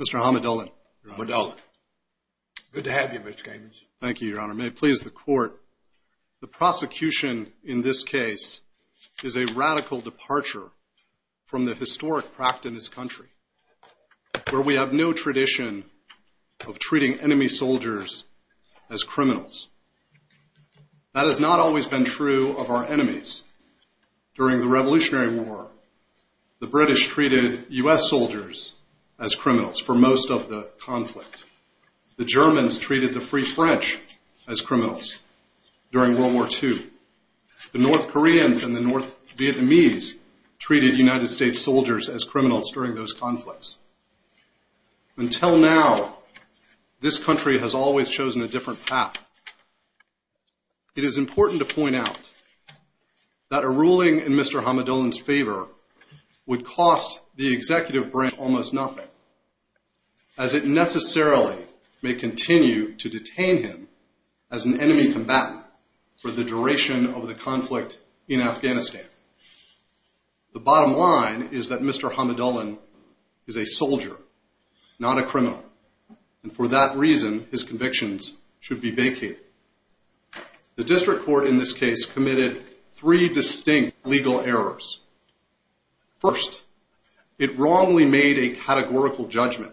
Mr. Hamidullin. Good to have you, Mr. Cabins. Thank you, your honor. May it please the court, the prosecution in this case is a radical departure from the historic practice in this country, where we have no tradition of treating enemy soldiers with respect. That has not always been true of our enemies. During the Revolutionary War, the British treated U.S. soldiers as criminals for most of the conflict. The Germans treated the Free French as criminals during World War II. The North Koreans and the North Vietnamese treated United States soldiers as criminals during those conflicts. Until now, this country has always chosen a different path. It is important to point out that a ruling in Mr. Hamidullin's favor would cost the executive branch almost nothing, as it necessarily may continue to detain him as an enemy combatant for the duration of the conflict in Afghanistan. The bottom line is that Mr. Hamidullin is a soldier, not a criminal, and for that reason his convictions should be vacated. The district court in this case committed three distinct legal errors. First, it wrongly made a categorical judgment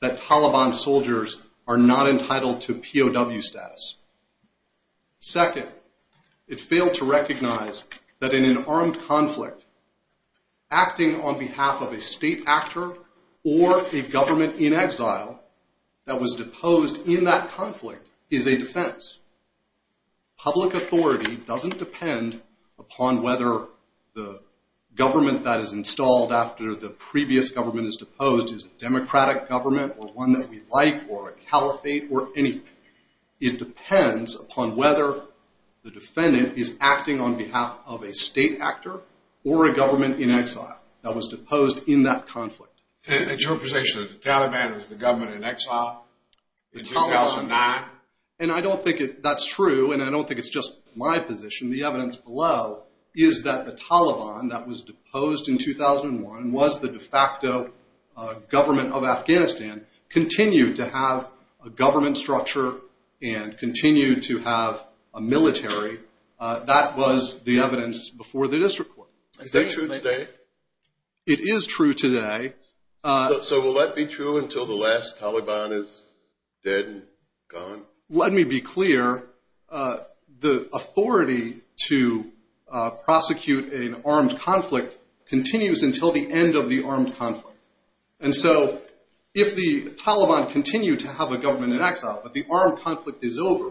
that Taliban soldiers are not entitled to POW status. Second, it failed to recognize that in an armed conflict, acting on behalf of a state actor or a government in exile that was deposed in that conflict is a defense. Public authority doesn't depend upon whether the government that is installed after the previous government is deposed is a democratic government or one that we like or a caliphate or anything. It depends upon whether the defendant is acting on behalf of a state actor or a government in exile that was deposed in that conflict. And it's your position that the Taliban was the government in exile in 2009? And I don't think that's true, and I don't think it's just my position. The evidence below is that the Taliban that was deposed in 2001 was the de facto government of Afghanistan, continued to have a government structure and continued to have a military. That was the evidence before the district court. Is that true today? It is true today. So will that be true until the last Taliban is dead and gone? Let me be clear. The authority to prosecute an armed conflict continues until the end of the armed conflict. And so if the Taliban continue to have a government in exile, but the armed conflict is over,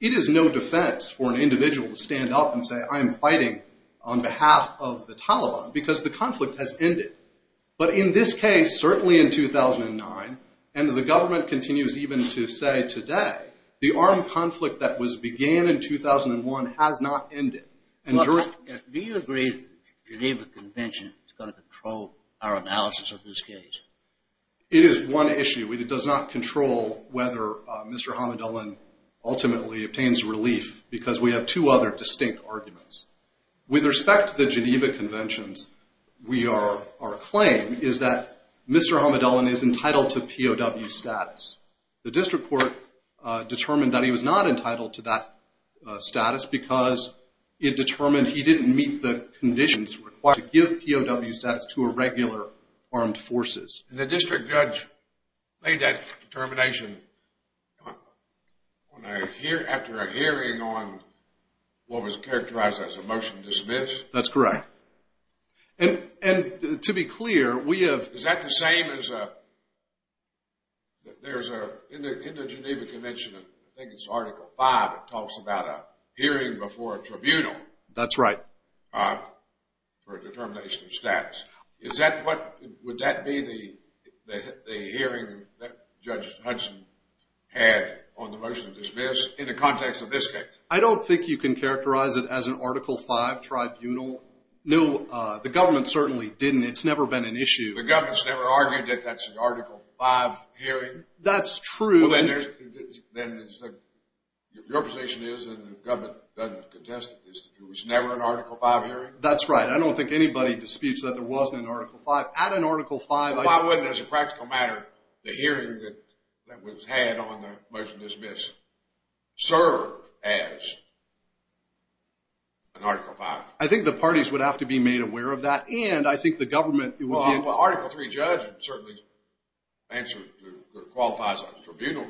it is no defense for an individual to stand up and say, I am fighting on behalf of the Taliban because the conflict has ended. But in this case, certainly in 2009, and the government continues even to say today, the armed conflict that began in 2001 has not ended. Do you agree that the Geneva Convention is going to control our analysis of this case? It is one issue. It does not control whether Mr. Hamidullin ultimately obtains relief because we have two other distinct arguments. With respect to the Geneva Conventions, our claim is that Mr. Hamidullin is entitled to POW status. The district court determined that he was not entitled to that status because it determined he did not meet the conditions required to give POW status to a regular armed forces. And the district judge made that determination after a hearing on what was characterized as a motion to dismiss? That's correct. And to be clear, we have... Is that the same as a... In the Geneva Convention, I think it's Article 5, it talks about a hearing before a tribunal. That's right. For a determination of status. Is that what... Would that be the hearing that Judge Hudson had on the motion to dismiss in the context of this case? I don't think you can characterize it as an Article 5 tribunal. No, the government certainly didn't. It's never been an issue. The government's never argued that that's an Article 5 hearing? That's true. Your position is, and the government doesn't contest it, is that there was never an Article 5 hearing? That's right. I don't think anybody disputes that there wasn't an Article 5. At an Article 5... Why wouldn't, as a practical matter, the hearing that was had on the motion to dismiss serve as an Article 5? I think the parties would have to be made aware of that, and I think the government... Well, an Article 3 judge would certainly qualify as a tribunal.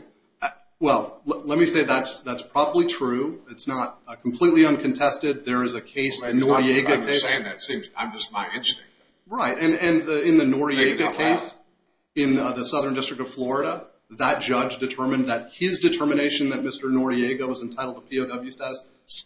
Well, let me say that's probably true. It's not completely uncontested. There is a case in Noriega... I understand that. It seems I'm just my instinct. Right, and in the Noriega case in the Southern District of Florida, that judge determined that his determination that Mr. Noriega was entitled to POW status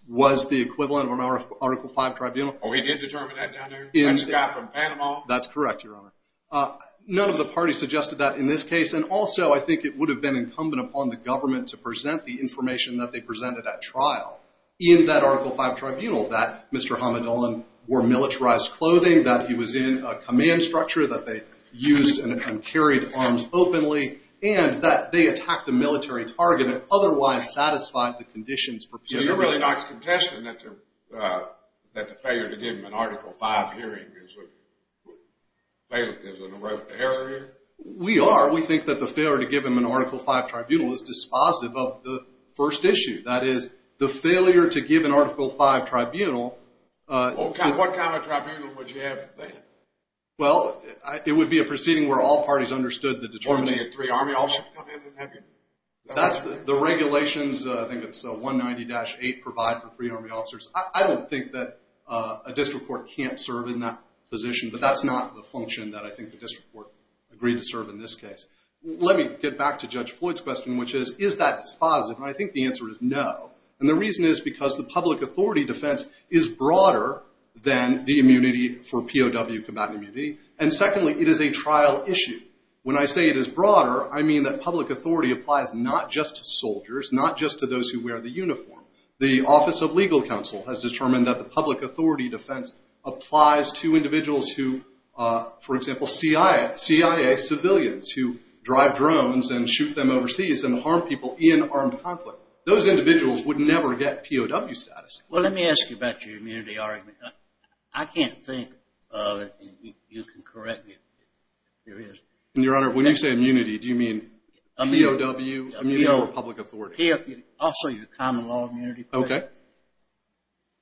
was the equivalent of an Article 5 tribunal. Oh, he did determine that down there? That's the guy from Panama? That's correct, Your Honor. None of the parties suggested that in this case, and also I think it would have been incumbent upon the government to present the information that they presented at trial in that Article 5 tribunal, that Mr. Hamadolin wore militarized clothing, that he was in a command structure, that they used and carried arms openly, and that they attacked a military target that otherwise satisfied the conditions... So you're really not contesting that the failure to give him an Article 5 hearing is an erroneous error here? We are. We think that the failure to give him an Article 5 tribunal is dispositive of the first issue. That is, the failure to give an Article 5 tribunal... What kind of tribunal would you have then? Well, it would be a proceeding where all parties understood the determination... I don't think that a district court can't serve in that position, but that's not the function that I think the district court agreed to serve in this case. Let me get back to Judge Floyd's question, which is, is that dispositive? And I think the answer is no. And the reason is because the public authority defense is broader than the immunity for POW combatant immunity. And secondly, it is a trial issue. When I say it is broader, I mean that public authority applies not just to soldiers, not just to those who wear the uniform. The Office of Legal Counsel has determined that the public authority defense applies to individuals who, for example, CIA civilians, who drive drones and shoot them overseas and harm people in armed conflict. Those individuals would never get POW status. Well, let me ask you about your immunity argument. I can't think... You can correct me if there is... Your Honor, when you say immunity, do you mean POW? Immunity over public authority? Also, your common law immunity claim. Okay.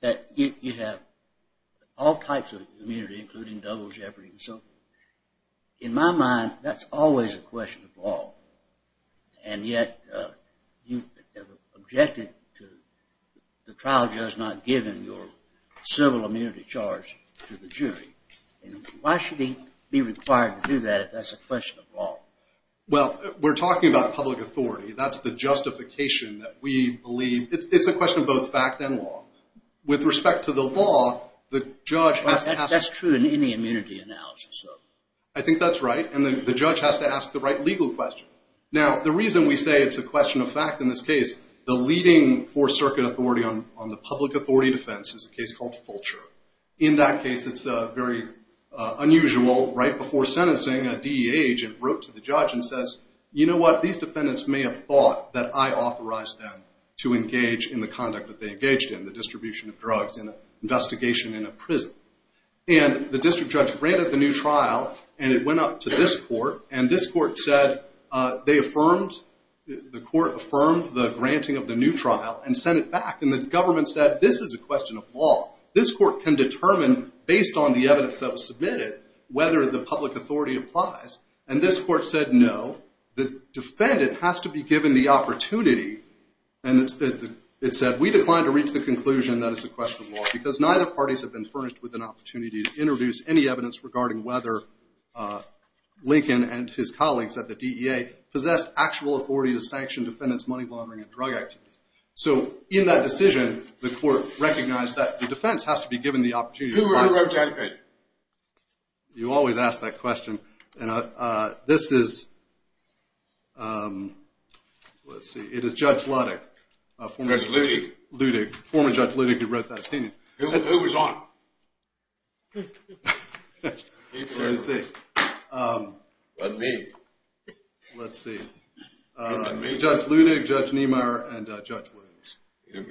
That you have all types of immunity, including double jeopardy and so forth. In my mind, that's always a question of law. And yet, you objected to the trial judge not giving your civil immunity charge to the jury. Why should he be required to do that if that's a question of law? Well, we're talking about public authority. That's the justification that we believe... It's a question of both fact and law. With respect to the law, the judge has to... That's true in any immunity analysis. I think that's right. And the judge has to ask the right legal question. Now, the reason we say it's a question of fact in this case, the leading Fourth Circuit authority on the public authority defense is a case called Fulcher. In that case, it's very unusual. Right before sentencing, a DEA agent wrote to the judge and says, You know what? These defendants may have thought that I authorized them to engage in the conduct that they engaged in, the distribution of drugs in an investigation in a prison. And the district judge granted the new trial, and it went up to this court. And this court said they affirmed... The court affirmed the granting of the new trial and sent it back. And the government said, This is a question of law. This court can determine, based on the evidence that was submitted, whether the public authority applies. And this court said, No. The defendant has to be given the opportunity. And it said, We declined to reach the conclusion that it's a question of law, because neither parties have been furnished with an opportunity to introduce any evidence regarding whether Lincoln and his colleagues at the DEA possessed actual authority to sanction defendants' money laundering and drug activities. So in that decision, the court recognized that the defense has to be given the opportunity... Who wrote that? You always ask that question. This is... Let's see. It is Judge Ludig. Judge Ludig. Ludig. Former Judge Ludig who wrote that opinion. Who was on? Let's see. Let me. Let's see. Judge Ludig, Judge Niemeyer, and Judge Ludig.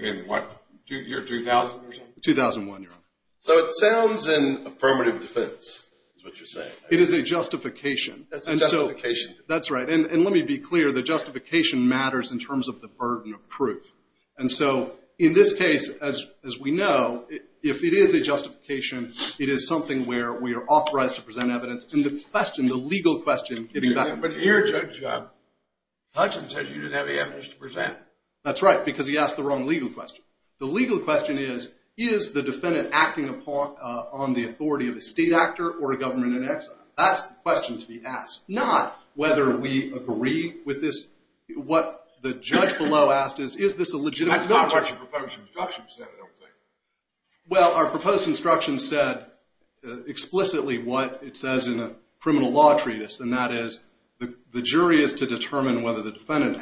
In what? Year 2000 or something? 2001, Your Honor. So it sounds in affirmative defense, is what you're saying. It is a justification. That's a justification. That's right. And let me be clear. The justification matters in terms of the burden of proof. And so in this case, as we know, if it is a justification, it is something where we are authorized to present evidence. And the question, the legal question... But here Judge Hutchins says you didn't have the evidence to present. That's right, because he asked the wrong legal question. The legal question is, is the defendant acting on the authority of a state actor or a government in exile? That's the question to be asked. Not whether we agree with this. What the judge below asked is, is this a legitimate... That's not what your proposed instruction said, I don't think. Well, our proposed instruction said explicitly what it says in a criminal law treatise, and that is the jury is to determine whether the defendant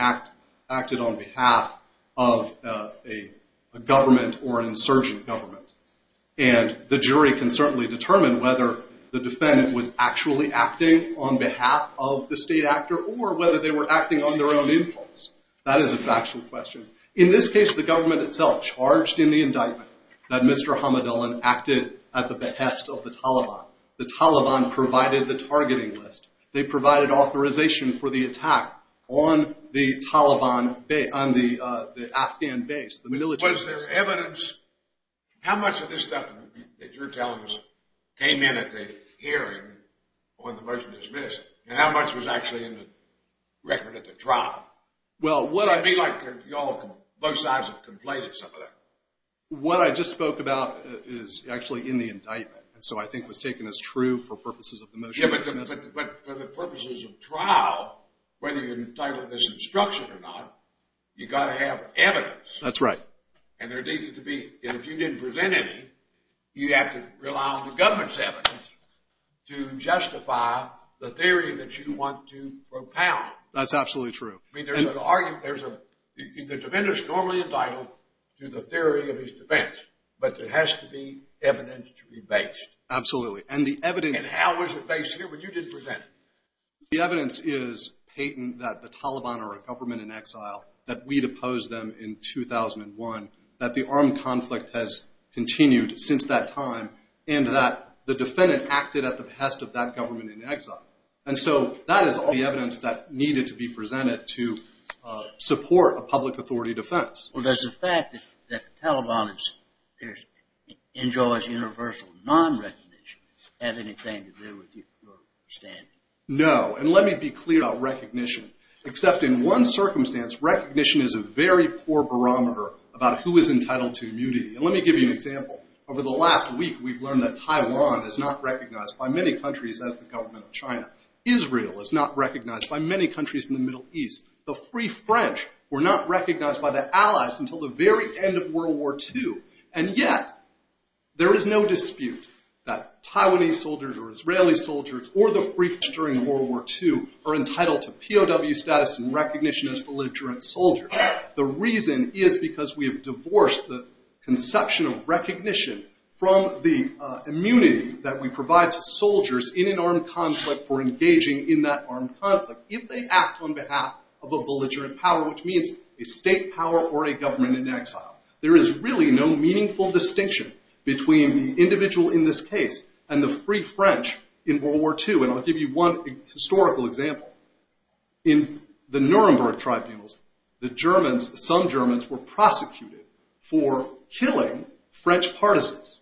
acted on behalf of a government or insurgent government. And the jury can certainly determine whether the defendant was actually acting on behalf of the state actor or whether they were acting on their own impulse. That is a factual question. In this case, the government itself charged in the indictment that Mr. Hamadullen acted at the behest of the Taliban. The Taliban provided the targeting list. They provided authorization for the attack on the Taliban base, on the Afghan base. Was there evidence... How much of this stuff that you're telling us came in at the hearing when the motion was dismissed? And how much was actually in the record at the trial? Well, what I... It would be like both sides have completed some of that. What I just spoke about is actually in the indictment, and so I think it was taken as true for purposes of the motion. But for the purposes of trial, whether you're entitled to this instruction or not, you've got to have evidence. That's right. And there needed to be. And if you didn't present any, you have to rely on the government's evidence to justify the theory that you want to propound. That's absolutely true. I mean, there's an argument. There's a... The defendant's normally indicted to the theory of his defense, but there has to be evidence to be based. Absolutely. And the evidence... And how was it based here when you didn't present it? The evidence is patent that the Taliban are a government in exile, that we'd opposed them in 2001, that the armed conflict has continued since that time, and that the defendant acted at the behest of that government in exile. And so that is all the evidence that needed to be presented to support a public authority defense. Well, does the fact that the Taliban enjoys universal non-recognition have anything to do with your standing? No. And let me be clear about recognition. Except in one circumstance, recognition is a very poor barometer about who is entitled to immunity. And let me give you an example. Over the last week, we've learned that Taiwan is not recognized by many countries as the government of China. Israel is not recognized by many countries in the Middle East. The Free French were not recognized by their allies until the very end of World War II. And yet, there is no dispute that Taiwanese soldiers or Israeli soldiers or the Free French during World War II are entitled to POW status and recognition as belligerent soldiers. The reason is because we have divorced the conception of recognition from the immunity that we provide to soldiers in an armed conflict for engaging in that armed conflict if they act on behalf of a belligerent power, which means a state power or a government in exile. There is really no meaningful distinction between the individual in this case and the Free French in World War II. And I'll give you one historical example. In the Nuremberg Tribunals, the Germans, some Germans were prosecuted for killing French partisans.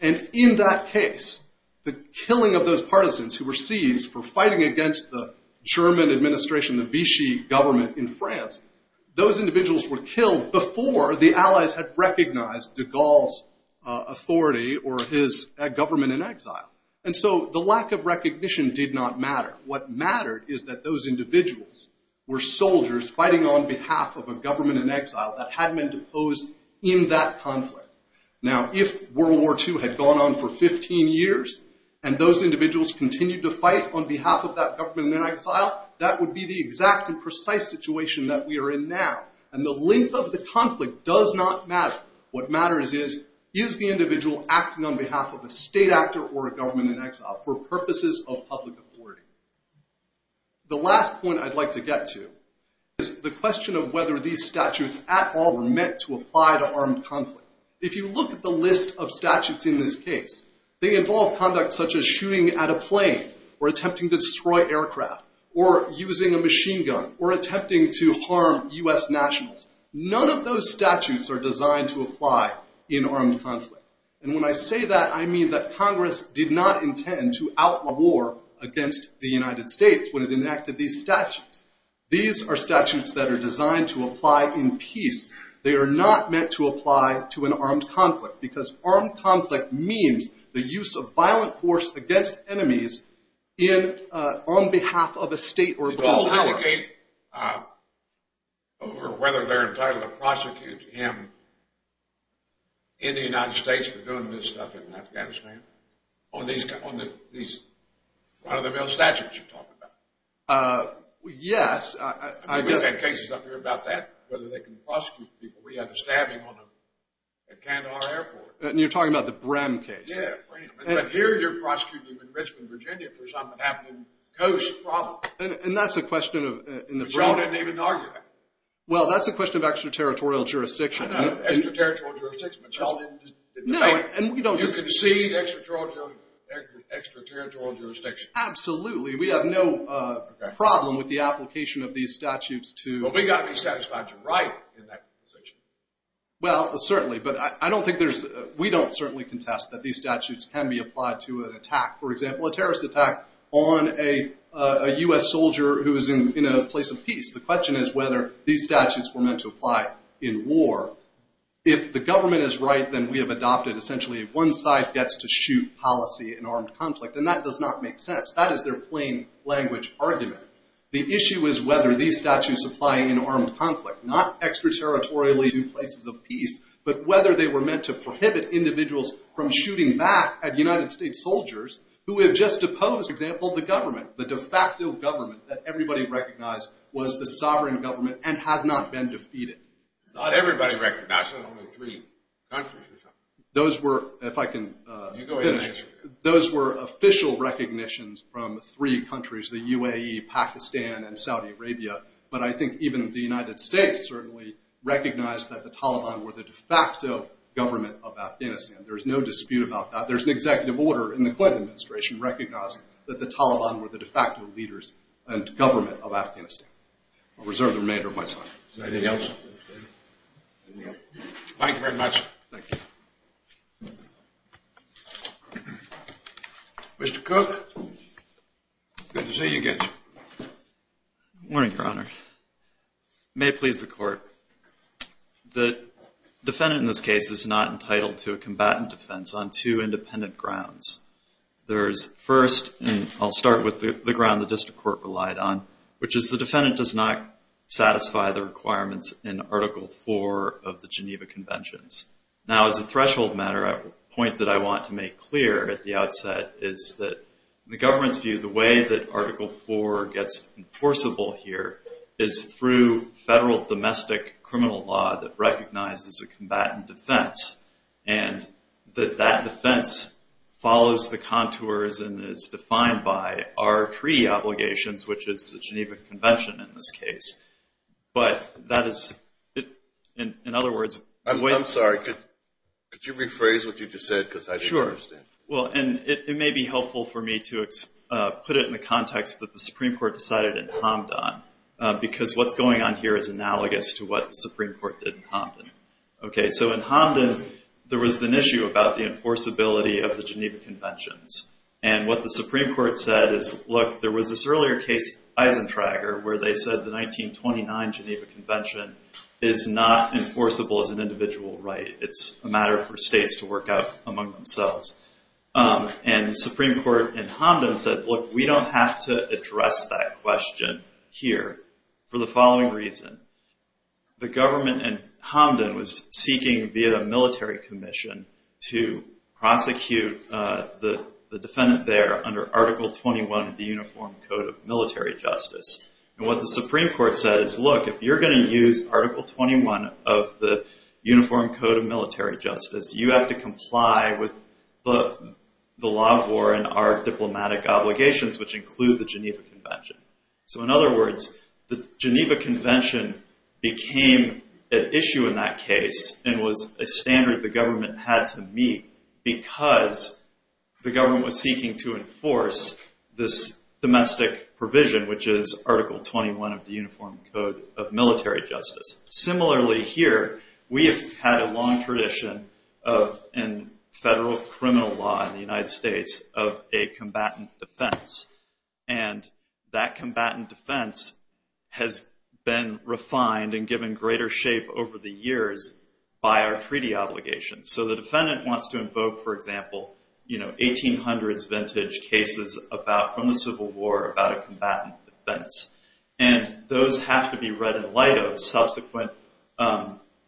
And in that case, the killing of those partisans who were seized for fighting against the German administration, the Vichy government in France, those individuals were killed before the allies had recognized de Gaulle's authority or his government in exile. And so, the lack of recognition did not matter. What mattered is that those individuals were soldiers fighting on behalf of a government in exile that had been deposed in that conflict. Now, if World War II had gone on for 15 years and those individuals continued to fight on behalf of that government in exile, that would be the exact and precise situation that we are in now. And the length of the conflict does not matter. What matters is, is the individual acting on behalf of a state actor or a government in exile for purposes of public authority? The last point I'd like to get to is the question of whether these statutes at all were meant to apply to armed conflict. If you look at the list of statutes in this case, they involve conduct such as shooting at a plane or attempting to destroy aircraft or using a machine gun or attempting to harm U.S. nationals. None of those statutes are designed to apply in armed conflict. And when I say that, I mean that Congress did not intend to outlaw war against the United States when it enacted these statutes. These are statutes that are designed to apply in peace. They are not meant to apply to an armed conflict because armed conflict means the use of violent force against enemies on behalf of a state or government. Can you delegate over whether they're entitled to prosecute him in the United States for doing this stuff in Afghanistan? On these run-of-the-mill statutes you're talking about? Yes. I mean, we've got cases up here about that, whether they can prosecute people. We had the stabbing at Kandahar Airport. And you're talking about the Brehm case. Yeah, Brehm. Here you're prosecuting him in Richmond, Virginia for something that happened in the coast probably. And that's a question of— Brehm didn't even argue that. Well, that's a question of extraterritorial jurisdiction. Extraterritorial jurisdiction. You concede extraterritorial jurisdiction. Absolutely. We have no problem with the application of these statutes to— But we've got to be satisfied you're right in that position. Well, certainly. But I don't think there's—we don't certainly contest that these statutes can be applied to an attack. For example, a terrorist attack on a U.S. soldier who is in a place of peace. The question is whether these statutes were meant to apply in war. If the government is right, then we have adopted essentially one side gets to shoot policy in armed conflict. And that does not make sense. That is their plain language argument. The issue is whether these statutes apply in armed conflict, not extraterritorially to places of peace, but whether they were meant to prohibit individuals from shooting back at United States soldiers who have just deposed, for example, the government. The de facto government that everybody recognized was the sovereign government and has not been defeated. Not everybody recognized. There's only three countries. Those were, if I can— You go ahead and answer. Those were official recognitions from three countries, the UAE, Pakistan, and Saudi Arabia. But I think even the United States certainly recognized that the Taliban were the de facto government of Afghanistan. There's no dispute about that. There's an executive order in the Clinton administration recognizing that the Taliban were the de facto leaders and government of Afghanistan. I'll reserve the remainder of my time. Anything else? Thank you very much. Thank you. Mr. Cook, good to see you again. Good morning, Your Honor. It may please the Court. The defendant in this case is not entitled to a combatant defense on two independent grounds. There is, first, and I'll start with the ground the district court relied on, which is the defendant does not satisfy the requirements in Article IV of the Geneva Conventions. Now, as a threshold matter, a point that I want to make clear at the outset is that the government's view, the way that Article IV gets enforceable here is through federal domestic criminal law that recognizes a combatant defense, and that that defense follows the contours and is defined by our treaty obligations, which is the Geneva Convention in this case. But that is, in other words – I'm sorry. Could you rephrase what you just said? Sure. And it may be helpful for me to put it in the context that the Supreme Court decided in Hamdan, because what's going on here is analogous to what the Supreme Court did in Hamdan. So in Hamdan, there was an issue about the enforceability of the Geneva Conventions. And what the Supreme Court said is, look, there was this earlier case, Eisentrager, where they said the 1929 Geneva Convention is not enforceable as an individual right. It's a matter for states to work out among themselves. And the Supreme Court in Hamdan said, look, we don't have to address that question here for the following reason. The government in Hamdan was seeking, via the military commission, to prosecute the defendant there under Article 21 of the Uniform Code of Military Justice. And what the Supreme Court said is, look, if you're going to use Article 21 of the Uniform Code of Military Justice, you have to comply with the law of war and our diplomatic obligations, which include the Geneva Convention. So in other words, the Geneva Convention became an issue in that case and was a standard the government had to meet because the government was seeking to enforce this domestic provision, which is Article 21 of the Uniform Code of Military Justice. Similarly here, we have had a long tradition in federal criminal law in the United States of a combatant defense. And that combatant defense has been refined and given greater shape over the years by our treaty obligations. So the defendant wants to invoke, for example, 1800s vintage cases from the Civil War about a combatant defense. And those have to be read in light of subsequent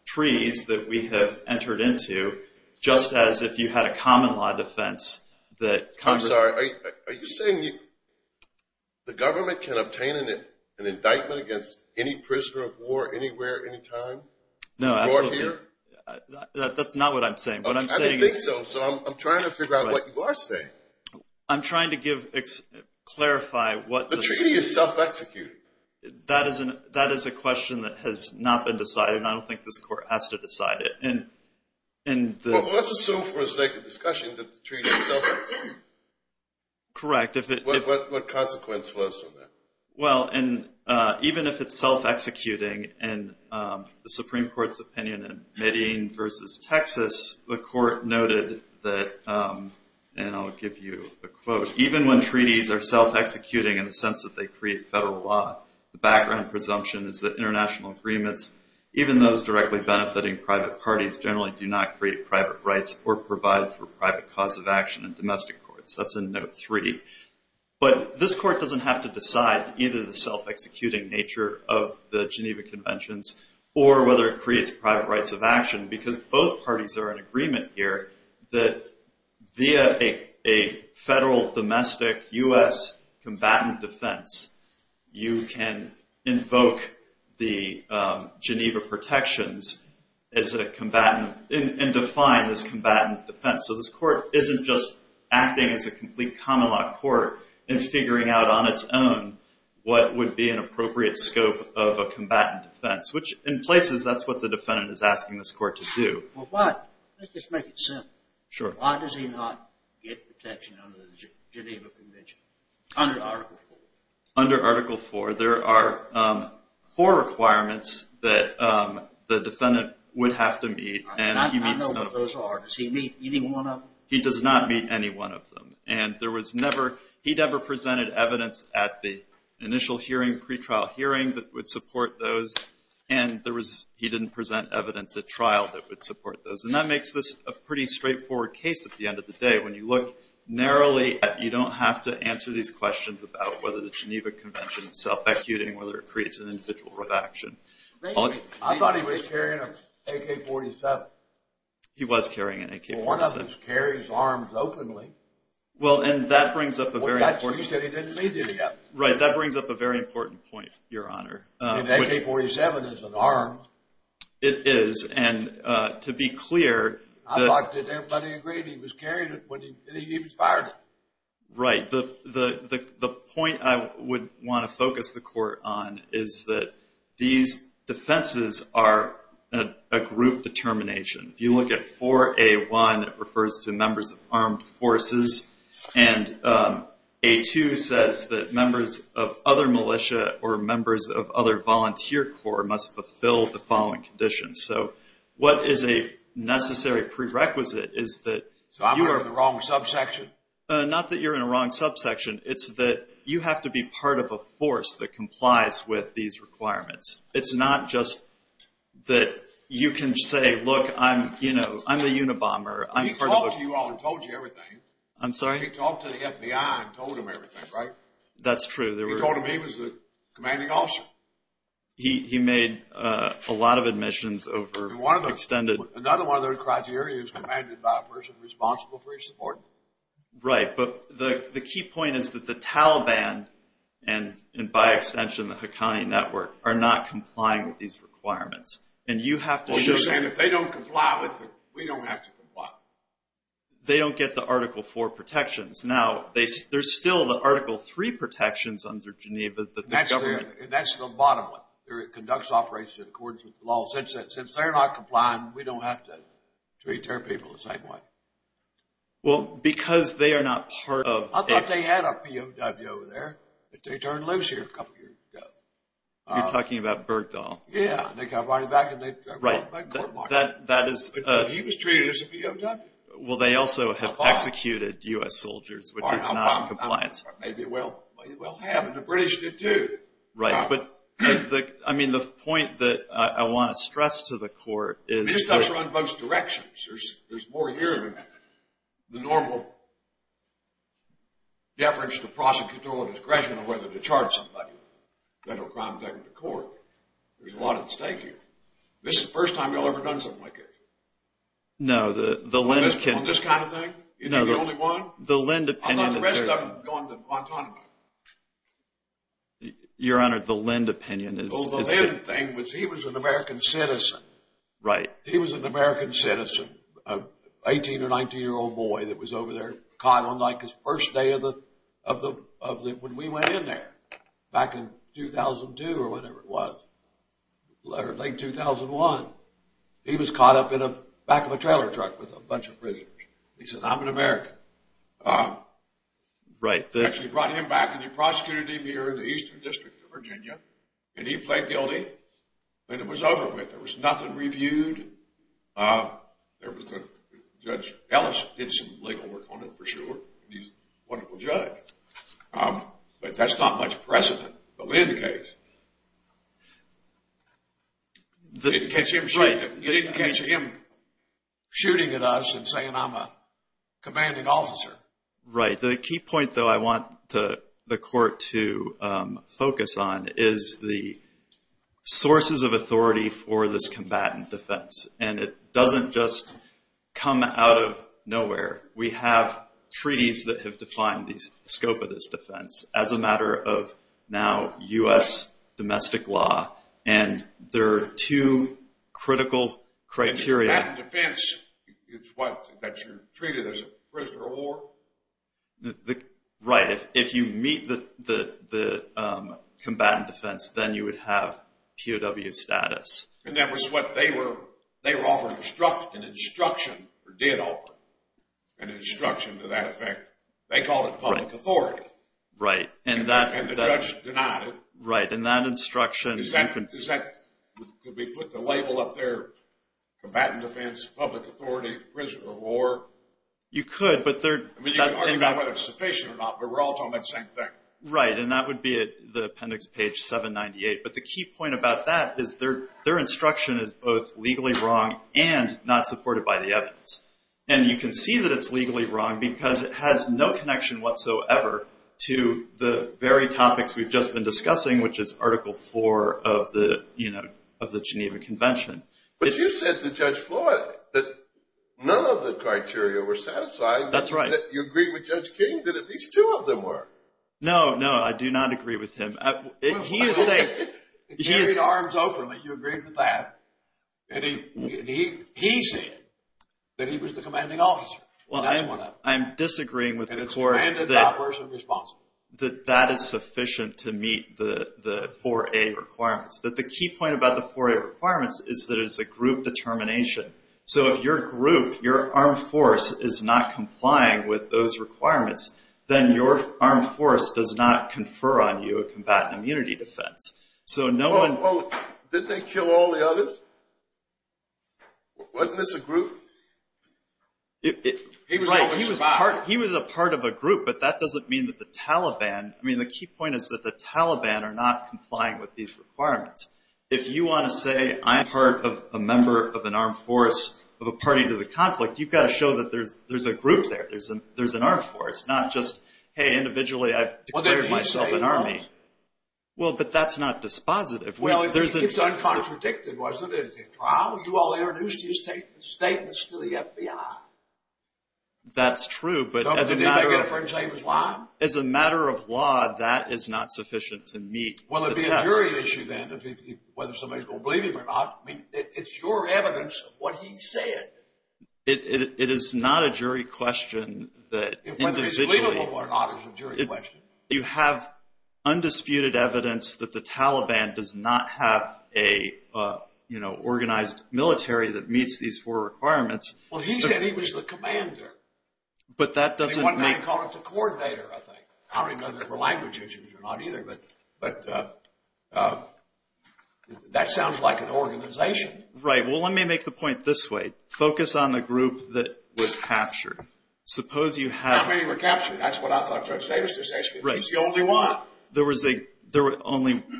treaties that we have entered into, just as if you had a common law defense that Congress— I'm sorry, are you saying the government can obtain an indictment against any prisoner of war anywhere, anytime? No, absolutely. That's not what I'm saying. I don't think so. So I'm trying to figure out what you are saying. I'm trying to clarify what— The treaty is self-executed. That is a question that has not been decided, and I don't think this Court has to decide it. Well, let's assume for the sake of discussion that the treaty is self-executed. Correct. What consequence flows from that? Well, even if it's self-executing, in the Supreme Court's opinion in Medellin v. Texas, the Court noted that, and I'll give you a quote, even when treaties are self-executing in the sense that they create federal law, the background presumption is that international agreements, even those directly benefiting private parties, generally do not create private rights or provide for private cause of action in domestic courts. That's in Note 3. But this Court doesn't have to decide either the self-executing nature of the Geneva Conventions or whether it creates private rights of action because both parties are in agreement here that via a federal domestic U.S. combatant defense, you can invoke the Geneva protections and define this combatant defense. So this Court isn't just acting as a complete common law court and figuring out on its own what would be an appropriate scope of a combatant defense, which in places that's what the defendant is asking this Court to do. Well, why? Let's just make it simple. Sure. Why does he not get protection under the Geneva Convention, under Article IV? Under Article IV, there are four requirements that the defendant would have to meet. I know what those are. Does he meet any one of them? He does not meet any one of them. And there was neveróhe never presented evidence at the initial hearing, pretrial hearing that would support those, and he didn't present evidence at trial that would support those. And that makes this a pretty straightforward case at the end of the day. When you look narrowly, you don't have to answer these questions about whether the Geneva Convention is self-executing, whether it creates an individual right of action. I thought he was carrying an AK-47. He was carrying an AK-47. Well, one of them carries arms openly. Well, and that brings up a very importantó Well, you said he didn't meet any of them. Right. That brings up a very important point, Your Honor. An AK-47 is an arm. It is, and to be clearó I thought that everybody agreed he was carrying it when he even fired it. Right. The point I would want to focus the court on is that these defenses are a group determination. If you look at 4A1, it refers to members of armed forces, and A2 says that members of other militia or members of other volunteer corps must fulfill the following conditions. So what is a necessary prerequisite is that you areó So I'm in the wrong subsection? Not that you're in the wrong subsection. It's that you have to be part of a force that complies with these requirements. It's not just that you can say, Look, I'm the Unabomber, I'm part of theó He talked to you all and told you everything. I'm sorry? He talked to the FBI and told them everything, right? That's true. He told them he was the commanding officer. He made a lot of admissions over extendedó Another one of those criteria is commanded by a person responsible for his support. Right, but the key point is that the Taliban, and by extension the Haqqani Network, are not complying with these requirements. And you have toó Well, you're saying if they don't comply with them, we don't have to comply. They don't get the Article 4 protections. Now, there's still the Article 3 protections under Geneva that the governmentó That's the bottom one. It conducts operations in accordance with the law. Since they're not complying, we don't have to treat their people the same way. Well, because they are not part ofó I thought they had a POW over there, but they turned loose here a couple of years ago. You're talking about Bergdahl. Yeah, and they got brought back, and theyó Right, that isó He was treated as a POW. Well, they also have executed U.S. soldiers, which is not in compliance. Maybe they will have, and the British did too. Right, butó I mean, the point that I want to stress to the Court isó This does run both directions. There's more here than the normal deference to prosecutorial discretion on whether to charge somebody with a federal crime to take them to court. There's a lot at stake here. This is the first time y'all ever done something like this. No, the LENDó On this kind of thing? You think you're the only one? The LEND opinion isó The rest of them have gone to Guantanamo. Your Honor, the LEND opinion isó Oh, the LEND thing was he was an American citizen. Right. He was an American citizen, an 18- or 19-year-old boy that was over there caught on his first day of theó when we went in there back in 2002 or whatever it was, late 2001. He was caught up in the back of a trailer truck with a bunch of prisoners. He said, I'm an American. Right. Actually brought him back and he prosecuted him here in the Eastern District of Virginia and he pled guilty and it was over with. There was nothing reviewed. Judge Ellis did some legal work on it for sure. He's a wonderful judge. But that's not much precedent in the LEND case. You didn't catch him shooting at us and saying I'm a commanding officer. Right. The key point, though, I want the court to focus on is the sources of authority for this combatant defense. And it doesn't just come out of nowhere. We have treaties that have defined the scope of this defense as a matter of now U.S. domestic law. And there are two critical criteriaó In combatant defense, it's what? That you're treated as a prisoner of war? Right. If you meet the combatant defense, then you would have POW status. And that was what they were offeringóan instructionóor did offeró an instruction to that effect. They called it public authority. Right. And the judge denied it. Right. And that instructionó Is thatócould we put the label up thereócombatant defense, public authority, prisoner of war? You could, but they'reó I mean, you can argue about whether it's sufficient or not, but we're all talking about the same thing. Right. And that would be at the appendix page 798. But the key point about that is their instruction is both legally wrong and not supported by the evidence. And you can see that it's legally wrong because it has no connection whatsoever to the very topics we've just been discussing, which is Article 4 of the Geneva Convention. But you said to Judge Floyd that none of the criteria were satisfied. That's right. You agreed with Judge King that at least two of them were. No, no, I do not agree with him. He is sayingó He carried arms openly. You agreed with that. He said that he was the commanding officer. That's what happened. I'm disagreeing with the courtó And the commandant's not personally responsible. That that is sufficient to meet the 4A requirements. The key point about the 4A requirements is that it's a group determination. So if your group, your armed force, is not complying with those requirements, then your armed force does not confer on you a combatant immunity defense. So no oneó Well, didn't they kill all the others? Wasn't this a group? Right. He was a part of a group, but that doesn't mean that the TalibanóI mean, the key point is that the Taliban are not complying with these requirements. If you want to say, I'm part of a member of an armed force of a party to the conflict, you've got to show that there's a group there, there's an armed force, not just, hey, individually I've declared myself an army. Well, but that's not dispositive. Well, it's uncontradicted, wasn't it? It's a trial. You all introduced your statements to the FBI. That's true, but as a matteró Don't they need to get a friend's name as well? As a matter of law, that is not sufficient to meet the test. Well, it'd be a jury issue then, whether somebody's going to believe him or not. I mean, it's your evidence of what he said. It is not a jury question that individuallyó Whether he's believable or not is a jury question. You have undisputed evidence that the Taliban does not have a, you know, organized military that meets these four requirements. Well, he said he was the commander. But that doesn't makeó One man called him the coordinator, I think. I don't even know if there were language issues or not either, but that sounds like an organization. Right. Well, let me make the point this way. Focus on the group that was captured. Suppose you haveó How many were captured? That's what I thought Judge Davis was asking. He's the only one.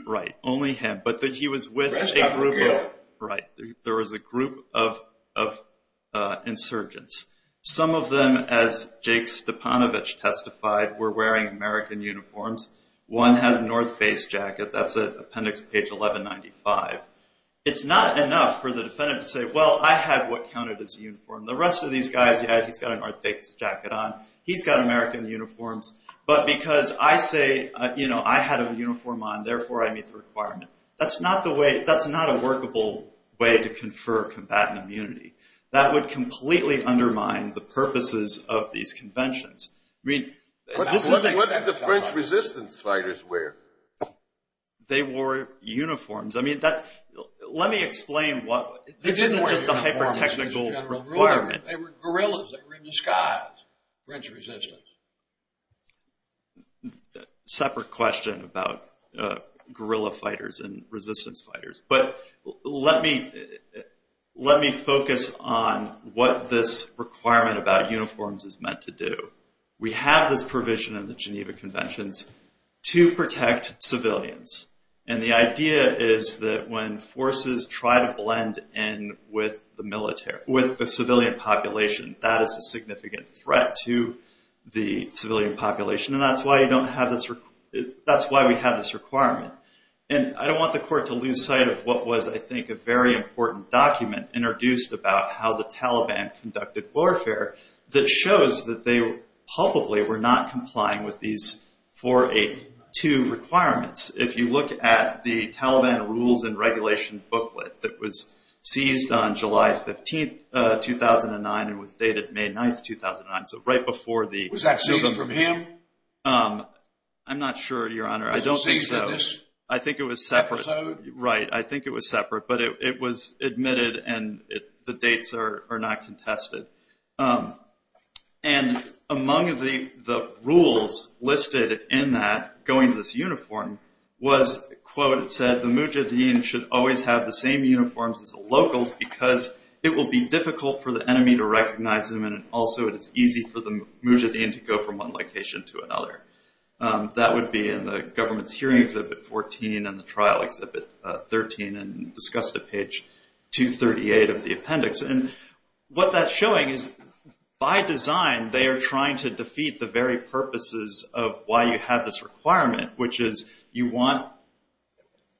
Right. Only him. But he was with a group ofó The rest got killed. Right. There was a group of insurgents. Some of them, as Jake Stepanovich testified, were wearing American uniforms. One had a North Face jacket. That's appendix page 1195. It's not enough for the defendant to say, Well, I had what counted as a uniform. The rest of these guys, yeah, he's got a North Face jacket on. He's got American uniforms. But because I say I had a uniform on, therefore I meet the requirement. That's not a workable way to confer combatant immunity. That would completely undermine the purposes of these conventions. What did the French resistance fighters wear? They wore uniforms. Let me explain wható This isn't just a hyper-technical requirement. They were guerrillas. They were in disguise, French resistance. Separate question about guerrilla fighters and resistance fighters. But let me focus on what this requirement about uniforms is meant to do. We have this provision in the Geneva Conventions to protect civilians. The idea is that when forces try to blend in with the civilian population, that is a significant threat to the civilian population. That's why we have this requirement. I don't want the court to lose sight of what was, I think, a very important document introduced about how the Taliban conducted warfare that shows that they probably were not complying with these 482 requirements. If you look at the Taliban rules and regulation booklet that was seized on July 15, 2009, and was dated May 9, 2009, so right before theó Was that seized from him? I'm not sure, Your Honor. I don't think so. I think it was separate. Right. I think it was separate. But it was admitted and the dates are not contested. And among the rules listed in that, going to this uniform, was, quote, it said, the mujahideen should always have the same uniforms as the locals because it will be difficult for the enemy to recognize them, and also it is easy for the mujahideen to go from one location to another. That would be in the Government's Hearing Exhibit 14 and the Trial Exhibit 13 and discussed at page 238 of the appendix. And what that's showing is, by design, they are trying to defeat the very purposes of why you have this requirement, which is you want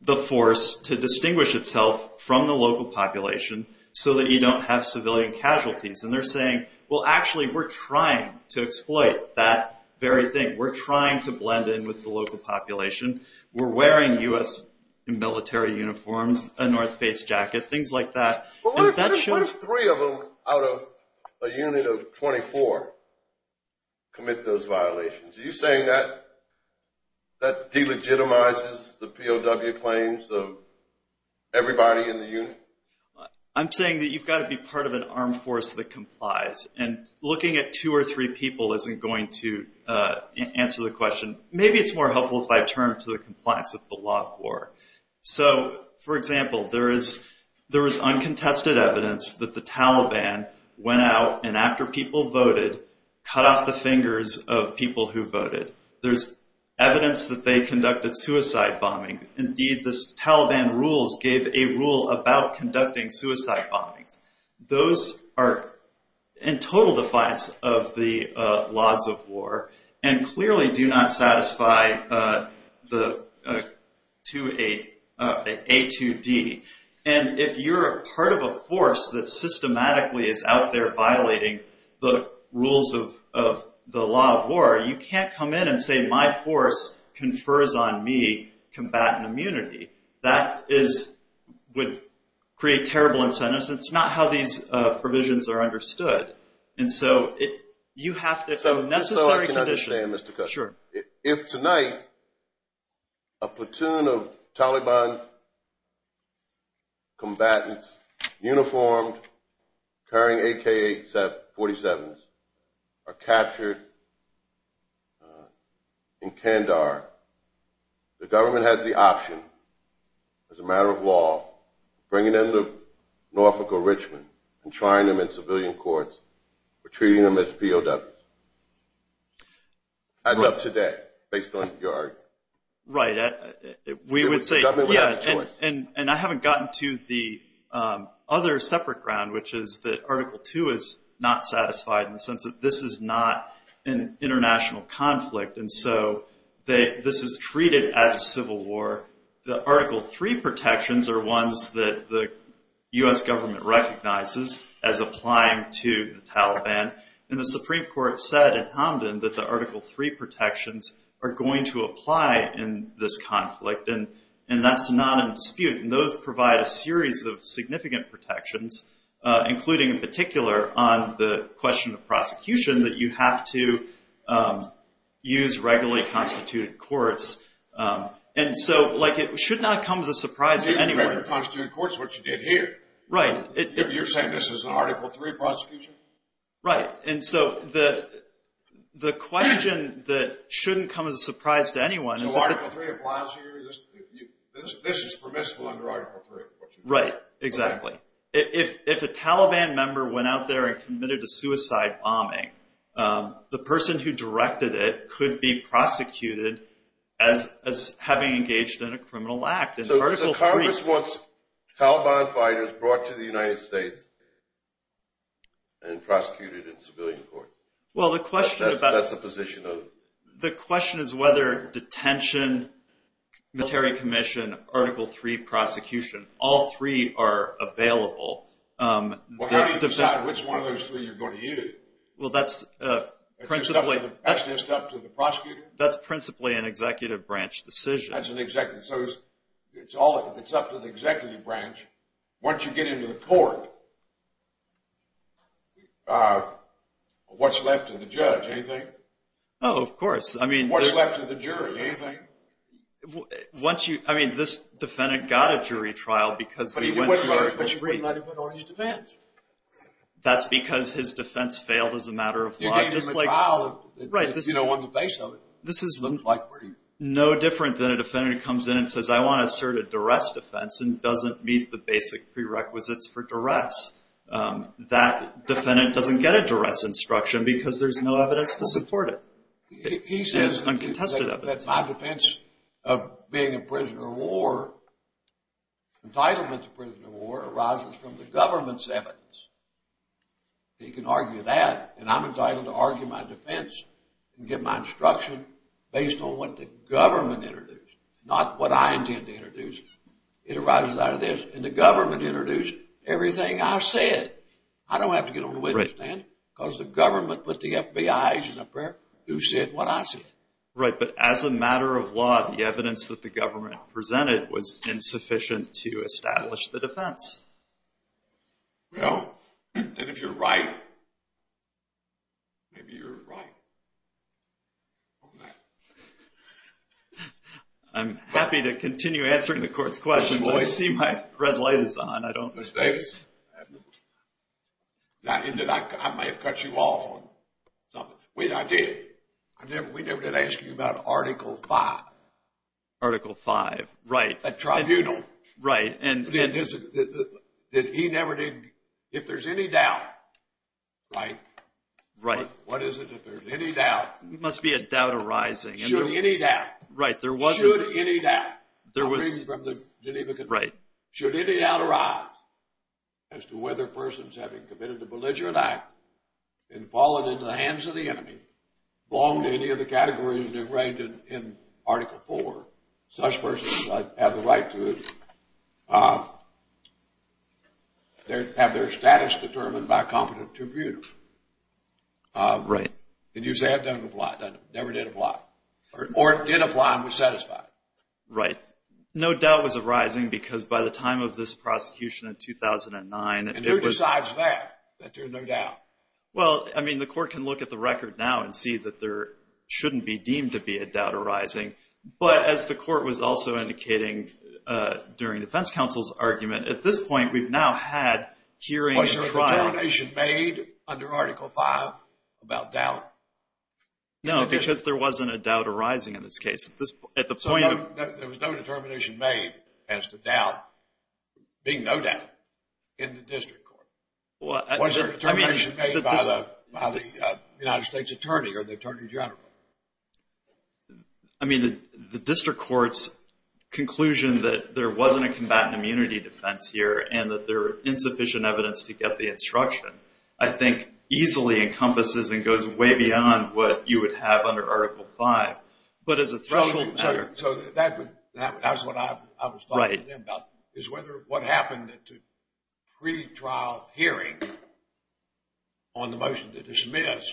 the force to distinguish itself from the local population so that you don't have civilian casualties. And they're saying, well, actually, we're trying to exploit that very thing. We're trying to blend in with the local population. We're wearing U.S. military uniforms, a North Face jacket, things like that. What if three of them out of a unit of 24 commit those violations? Are you saying that delegitimizes the POW claims of everybody in the unit? I'm saying that you've got to be part of an armed force that complies. And looking at two or three people isn't going to answer the question. Maybe it's more helpful if I turn to the compliance with the law of war. So, for example, there is uncontested evidence that the Taliban went out and after people voted, cut off the fingers of people who voted. There's evidence that they conducted suicide bombing. Indeed, the Taliban rules gave a rule about conducting suicide bombings. And clearly do not satisfy the A2D. And if you're part of a force that systematically is out there violating the rules of the law of war, you can't come in and say, my force confers on me combatant immunity. That would create terrible incentives. That's not how these provisions are understood. And so you have to have a necessary condition. If tonight a platoon of Taliban combatants, uniformed, carrying AK-47s, are captured in Kandahar, the government has the option, as a matter of law, bringing them to Norfolk or Richmond and trying them in civilian courts or treating them as POWs. How's up to that, based on your argument? Right. We would say, yeah, and I haven't gotten to the other separate ground, which is that Article 2 is not satisfied in the sense that this is not an international conflict. And so this is treated as a civil war. The Article 3 protections are ones that the U.S. government recognizes as applying to the Taliban. And the Supreme Court said in Hamdan that the Article 3 protections are going to apply in this conflict. And that's not in dispute. And those provide a series of significant protections, including in particular on the question of prosecution, that you have to use regularly constituted courts. And so, like, it should not come as a surprise to anyone. Regular constituted courts is what you did here. Right. You're saying this is an Article 3 prosecution? Right. And so the question that shouldn't come as a surprise to anyone is that the So Article 3 applies here? This is permissible under Article 3? Right, exactly. If a Taliban member went out there and committed a suicide bombing, the person who directed it could be prosecuted as having engaged in a criminal act. So Congress wants Taliban fighters brought to the United States and prosecuted in civilian court. That's the position of? The question is whether detention, military commission, Article 3 prosecution, all three are available. Well, how do you decide which one of those three you're going to use? Well, that's principally an executive branch decision. That's an executive. So it's up to the executive branch. Once you get into the court, what's left to the judge? Anything? Oh, of course. I mean, What's left to the jury? Anything? I mean, this defendant got a jury trial because we went to But he was not even on his defense. That's because his defense failed as a matter of law, just like You gave him a trial if you don't want the face of it. This is no different than a defendant comes in and says, I want to assert a duress defense and doesn't meet the basic prerequisites for duress. That defendant doesn't get a duress instruction because there's no evidence to support it. It's uncontested evidence. He says that my defense of being in prison or war, Entitlement to prison or war arises from the government's evidence. He can argue that, and I'm entitled to argue my defense and get my instruction based on what the government introduced, not what I intend to introduce. It arises out of this. And the government introduced everything I said. I don't have to get on the witness stand because the government put the FBI agent up there who said what I said. Right, but as a matter of law, the evidence that the government presented was insufficient to establish the defense. Well, and if you're right, maybe you're right on that. I'm happy to continue answering the court's questions. I see my red light is on. Mr. Davis, I may have cut you off on something. Wait, I did. We never did ask you about Article V. Article V, right. A tribunal. Right. That he never did, if there's any doubt, right? Right. What is it if there's any doubt? There must be a doubt arising. Should any doubt. Right, there wasn't. Should any doubt. Right. Should any doubt arise as to whether persons having committed a belligerent act and fallen into the hands of the enemy belong to any of the categories that are arranged in Article IV? Such persons have the right to have their status determined by a competent tribunal. Right. And you say it never did apply. Or it did apply and was satisfied. Right. No doubt was arising because by the time of this prosecution in 2009, And who decides that, that there's no doubt? Well, I mean, the court can look at the record now and see that there shouldn't be deemed to be a doubt arising. But as the court was also indicating during defense counsel's argument, at this point we've now had hearing and trial. Was there a determination made under Article V about doubt? No, because there wasn't a doubt arising in this case. At the point of. So there was no determination made as to doubt being no doubt in the district court. Was there a determination made by the United States Attorney or the Attorney General? I mean, the district court's conclusion that there wasn't a combatant immunity defense here and that there were insufficient evidence to get the instruction, I think, easily encompasses and goes way beyond what you would have under Article V. So that's what I was talking to them about, is whether what happened at the pre-trial hearing on the motion to dismiss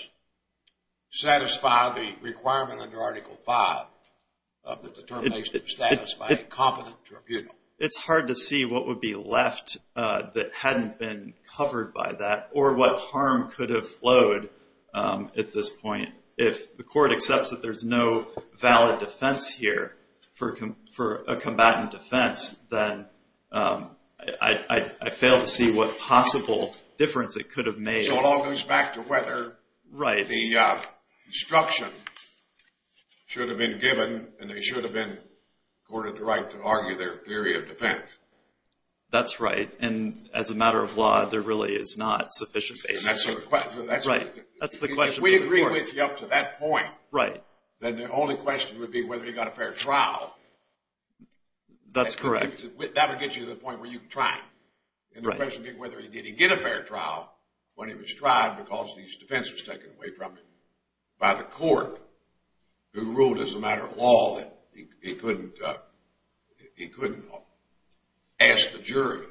satisfy the requirement under Article V of the determination to satisfy a competent tribunal. It's hard to see what would be left that hadn't been covered by that or what harm could have flowed at this point. If the court accepts that there's no valid defense here for a combatant defense, then I fail to see what possible difference it could have made. So it all goes back to whether the instruction should have been given and they should have been ordered to argue their theory of defense. That's right. And as a matter of law, there really is not sufficient basis. That's the question. If we agree with you up to that point, then the only question would be whether he got a fair trial. That's correct. That would get you to the point where you tried. And the question being whether he did get a fair trial when he was tried because his defense was taken away from him by the court who ruled as a matter of law that he couldn't ask the jury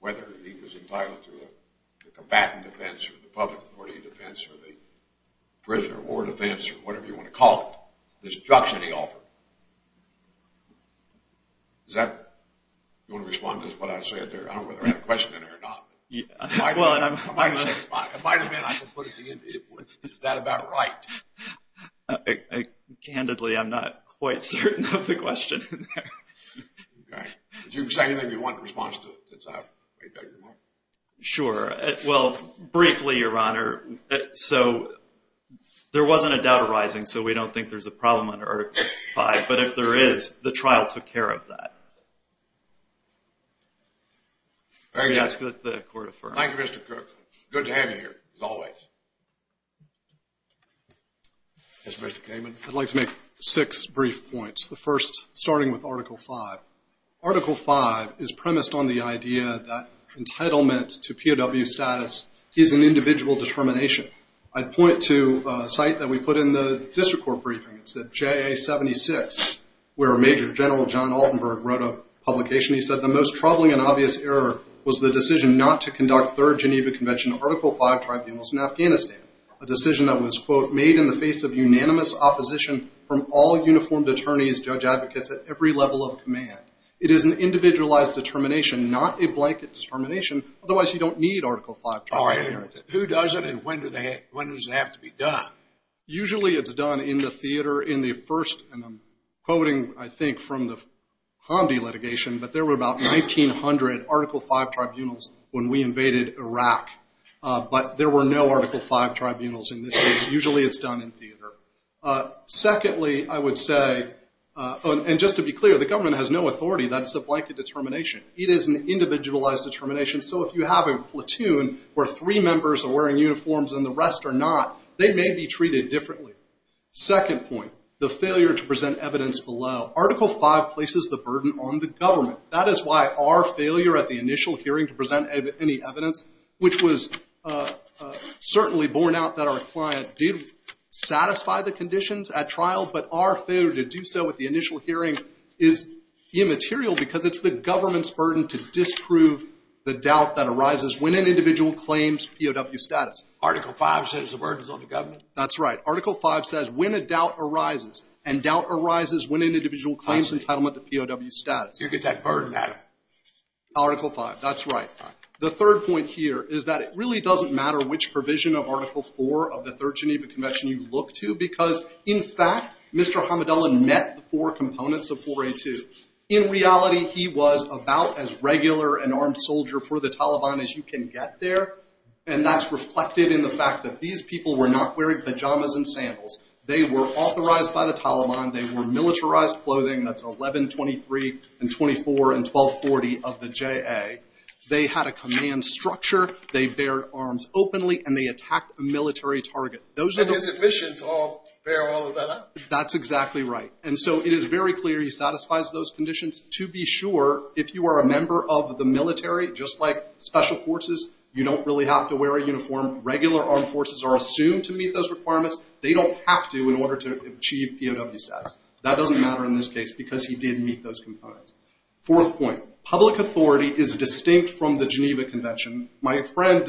whether he was entitled to a combatant defense or the public authority defense or the prisoner of war defense or whatever you want to call it, the instruction he offered. Does that respond to what I said there? I don't know whether I have a question in there or not. It might have been. Is that about right? Candidly, I'm not quite certain of the question in there. Okay. Would you say anything you want in response to that? Sure. Well, briefly, Your Honor, so there wasn't a doubt arising, so we don't think there's a problem under Article V. But if there is, the trial took care of that. Very good. Thank you, Mr. Cook. Good to have you here, as always. Mr. Gaiman. I'd like to make six brief points. The first, starting with Article V. Article V is premised on the idea that entitlement to POW status is an individual determination. I'd point to a site that we put in the district court briefing. It said JA 76, where Major General John Altenberg wrote a publication. He said, The most troubling and obvious error was the decision not to conduct third Geneva Convention Article V tribunals in Afghanistan, a decision that was, quote, made in the face of unanimous opposition from all uniformed attorneys, judge advocates at every level of command. It is an individualized determination, not a blanket determination. Otherwise, you don't need Article V tribunals. Who does it and when does it have to be done? Usually it's done in the theater in the first, and I'm quoting, I think, from the Hamdi litigation, but there were about 1,900 Article V tribunals when we invaded Iraq. But there were no Article V tribunals in this case. Usually it's done in theater. Secondly, I would say, and just to be clear, the government has no authority. That is a blanket determination. It is an individualized determination, so if you have a platoon where three members are wearing uniforms and the rest are not, they may be treated differently. Second point, the failure to present evidence below. Article V places the burden on the government. That is why our failure at the initial hearing to present any evidence, which was certainly borne out that our client did satisfy the conditions at trial, but our failure to do so at the initial hearing is immaterial because it's the government's burden to disprove the doubt that arises when an individual claims POW status. Article V says the burden is on the government? That's right. Article V says when a doubt arises, and doubt arises when an individual claims entitlement to POW status. You get that burden out of it. Article V. That's right. The third point here is that it really doesn't matter which provision of Article IV of the Third Geneva Convention you look to because, in fact, Mr. Hamadullah met the four components of 4A2. In reality, he was about as regular an armed soldier for the Taliban as you can get there, and that's reflected in the fact that these people were not wearing pajamas and sandals. They were authorized by the Taliban. They wore militarized clothing. That's 1123 and 24 and 1240 of the JA. They had a command structure. They bear arms openly, and they attacked a military target. And his admissions all bear all of that out. That's exactly right. And so it is very clear he satisfies those conditions. To be sure, if you are a member of the military, just like special forces, you don't really have to wear a uniform. Regular armed forces are assumed to meet those requirements. They don't have to in order to achieve POW status. That doesn't matter in this case because he did meet those components. Fourth point. Public authority is distinct from the Geneva Convention. My friend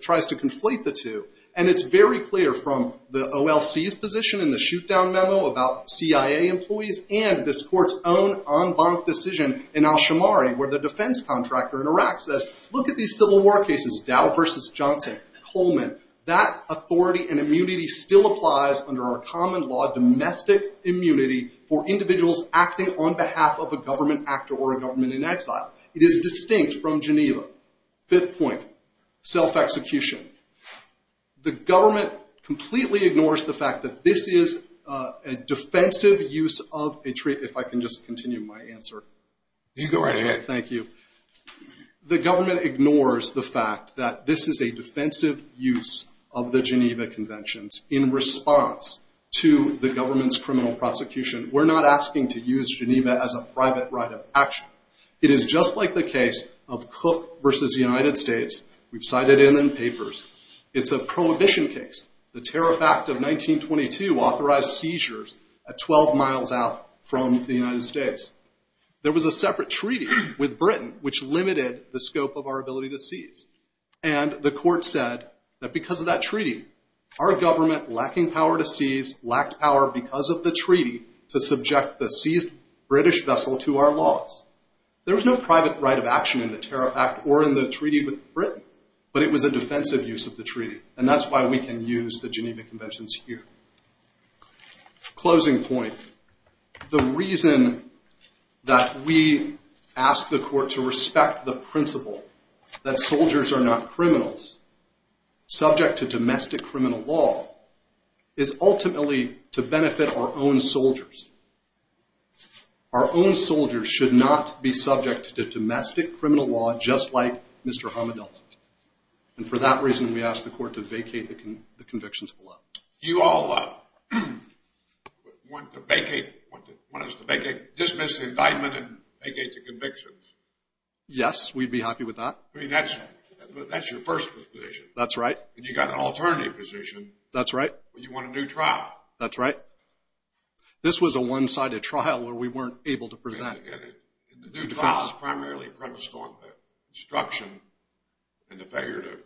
tries to conflate the two, and it's very clear from the OLC's position in the shoot-down memo about CIA employees and this court's own en banc decision in Al-Shamari, where the defense contractor in Iraq says, look at these civil war cases, Dow versus Johnson, Coleman. That authority and immunity still applies under our common law, domestic immunity for individuals acting on behalf of a government actor or a government in exile. It is distinct from Geneva. Fifth point. Self-execution. The government completely ignores the fact that this is a defensive use of a treaty. If I can just continue my answer. You can go right ahead. Thank you. The government ignores the fact that this is a defensive use of the Geneva Conventions in response to the government's criminal prosecution. We're not asking to use Geneva as a private right of action. It is just like the case of Cook versus the United States. We've cited it in the papers. It's a prohibition case. The Tariff Act of 1922 authorized seizures at 12 miles out from the United States. There was a separate treaty with Britain which limited the scope of our ability to seize, and the court said that because of that treaty, our government lacking power to seize lacked power because of the treaty to subject the seized British vessel to our laws. There was no private right of action in the Tariff Act or in the treaty with Britain, but it was a defensive use of the treaty, and that's why we can use the Geneva Conventions here. Closing point. The reason that we ask the court to respect the principle that soldiers are not criminals, subject to domestic criminal law, is ultimately to benefit our own soldiers. Our own soldiers should not be subject to domestic criminal law just like Mr. Hamadel. And for that reason, we ask the court to vacate the convictions below. You all want us to vacate, dismiss the indictment and vacate the convictions? Yes, we'd be happy with that. But that's your first position. That's right. And you've got an alternative position. That's right. You want a new trial. That's right. This was a one-sided trial where we weren't able to present a new defense. The new trial is primarily premised on the destruction and the failure to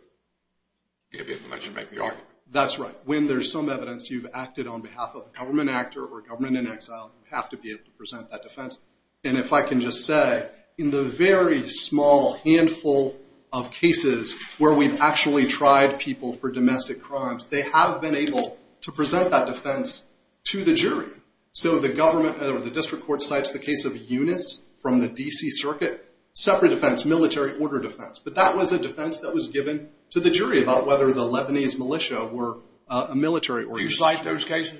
give in unless you make the argument. That's right. When there's some evidence you've acted on behalf of a government actor or government in exile, you have to be able to present that defense. And if I can just say, in the very small handful of cases where we've actually tried people for domestic crimes, they have been able to present that defense to the jury. So the government or the district court cites the case of Eunice from the D.C. Circuit, separate defense, military order defense. But that was a defense that was given to the jury about whether the Lebanese militia were a military organization. Do you cite those cases?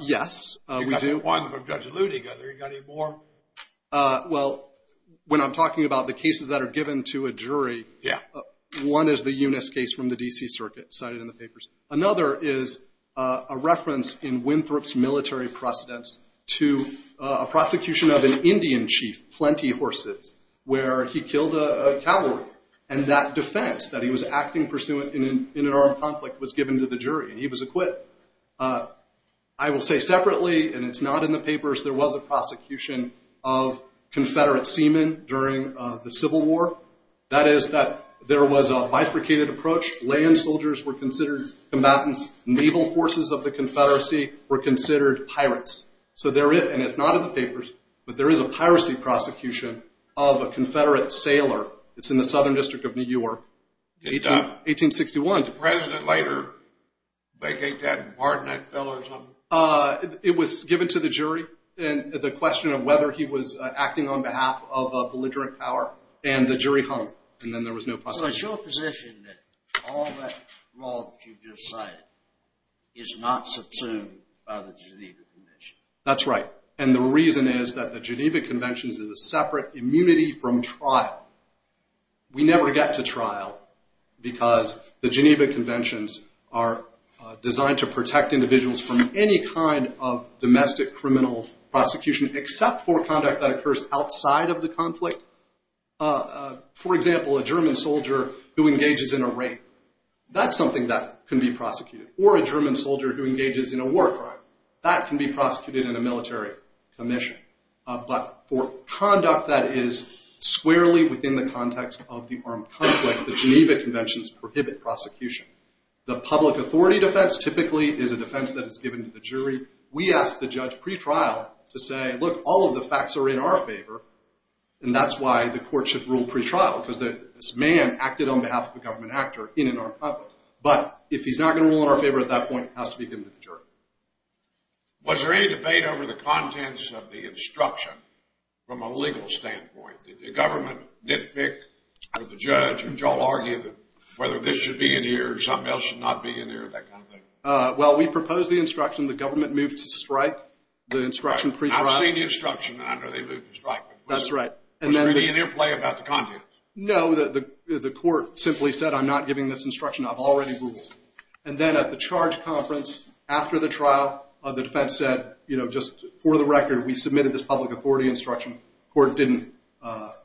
Yes, we do. Well, when I'm talking about the cases that are given to a jury, one is the Eunice case from the D.C. Circuit cited in the papers. Another is a reference in Winthrop's military precedence to a prosecution of an Indian chief, Plenty Horses, where he killed a cavalry. And that defense that he was acting pursuant in an armed conflict was given to the jury, and he was acquitted. I will say separately, and it's not in the papers, there was a prosecution of Confederate seamen during the Civil War. That is that there was a bifurcated approach. Land soldiers were considered combatants. Naval forces of the Confederacy were considered pirates. So there is, and it's not in the papers, but there is a piracy prosecution of a Confederate sailor. It's in the Southern District of New York. 1861. Did the President later vacate that and pardon that fellow or something? It was given to the jury, and the question of whether he was acting on behalf of a belligerent power, and the jury hung, and then there was no prosecution. So it's your position that all that law that you just cited is not subsumed by the Geneva Conventions? That's right. And the reason is that the Geneva Conventions is a separate immunity from trial. We never get to trial because the Geneva Conventions are designed to protect individuals from any kind of domestic criminal prosecution except for conduct that occurs outside of the conflict. For example, a German soldier who engages in a rape, that's something that can be prosecuted. Or a German soldier who engages in a war crime, that can be prosecuted in a military commission. But for conduct that is squarely within the context of the armed conflict, the Geneva Conventions prohibit prosecution. The public authority defense typically is a defense that is given to the jury. We ask the judge pre-trial to say, look, all of the facts are in our favor, and that's why the court should rule pre-trial because this man acted on behalf of a government actor in an armed conflict. But if he's not going to rule in our favor at that point, it has to be given to the jury. Was there any debate over the contents of the instruction from a legal standpoint? Did the government nitpick, or the judge, or did you all argue that whether this should be in here or something else should not be in here, that kind of thing? Well, we proposed the instruction. The government moved to strike the instruction pre-trial. I've seen the instruction, and I know they moved to strike. That's right. Was there any in-play about the contents? No, the court simply said, I'm not giving this instruction. I've already ruled. And then at the charge conference after the trial, the defense said, you know, just for the record, we submitted this public authority instruction. The court didn't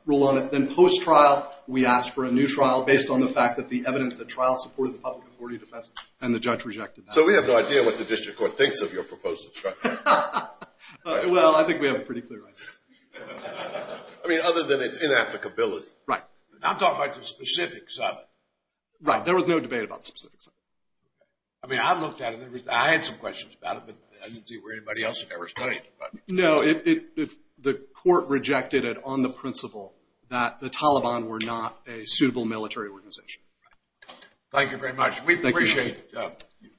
rule on it. Then post-trial, we asked for a new trial based on the fact that the evidence at trial supported the public authority defense, and the judge rejected that. So we have no idea what the district court thinks of your proposal. Well, I think we have a pretty clear idea. I mean, other than its inapplicability. Right. I'm talking about the specifics of it. Right. There was no debate about the specifics of it. I mean, I looked at it. I had some questions about it, but I didn't see where anybody else had ever studied it. No, the court rejected it on the principle that the Taliban were not a suitable military organization. Thank you very much. We appreciate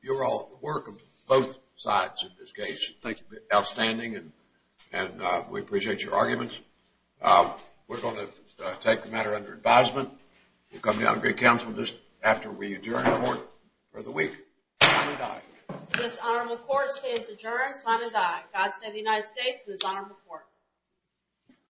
your work on both sides of this case. Outstanding, and we appreciate your arguments. We're going to take the matter under advisement. We'll come to you on great counsel just after we adjourn the court for the week. Sign and die. This honorable court stays adjourned. Sign and die. God save the United States and this honorable court.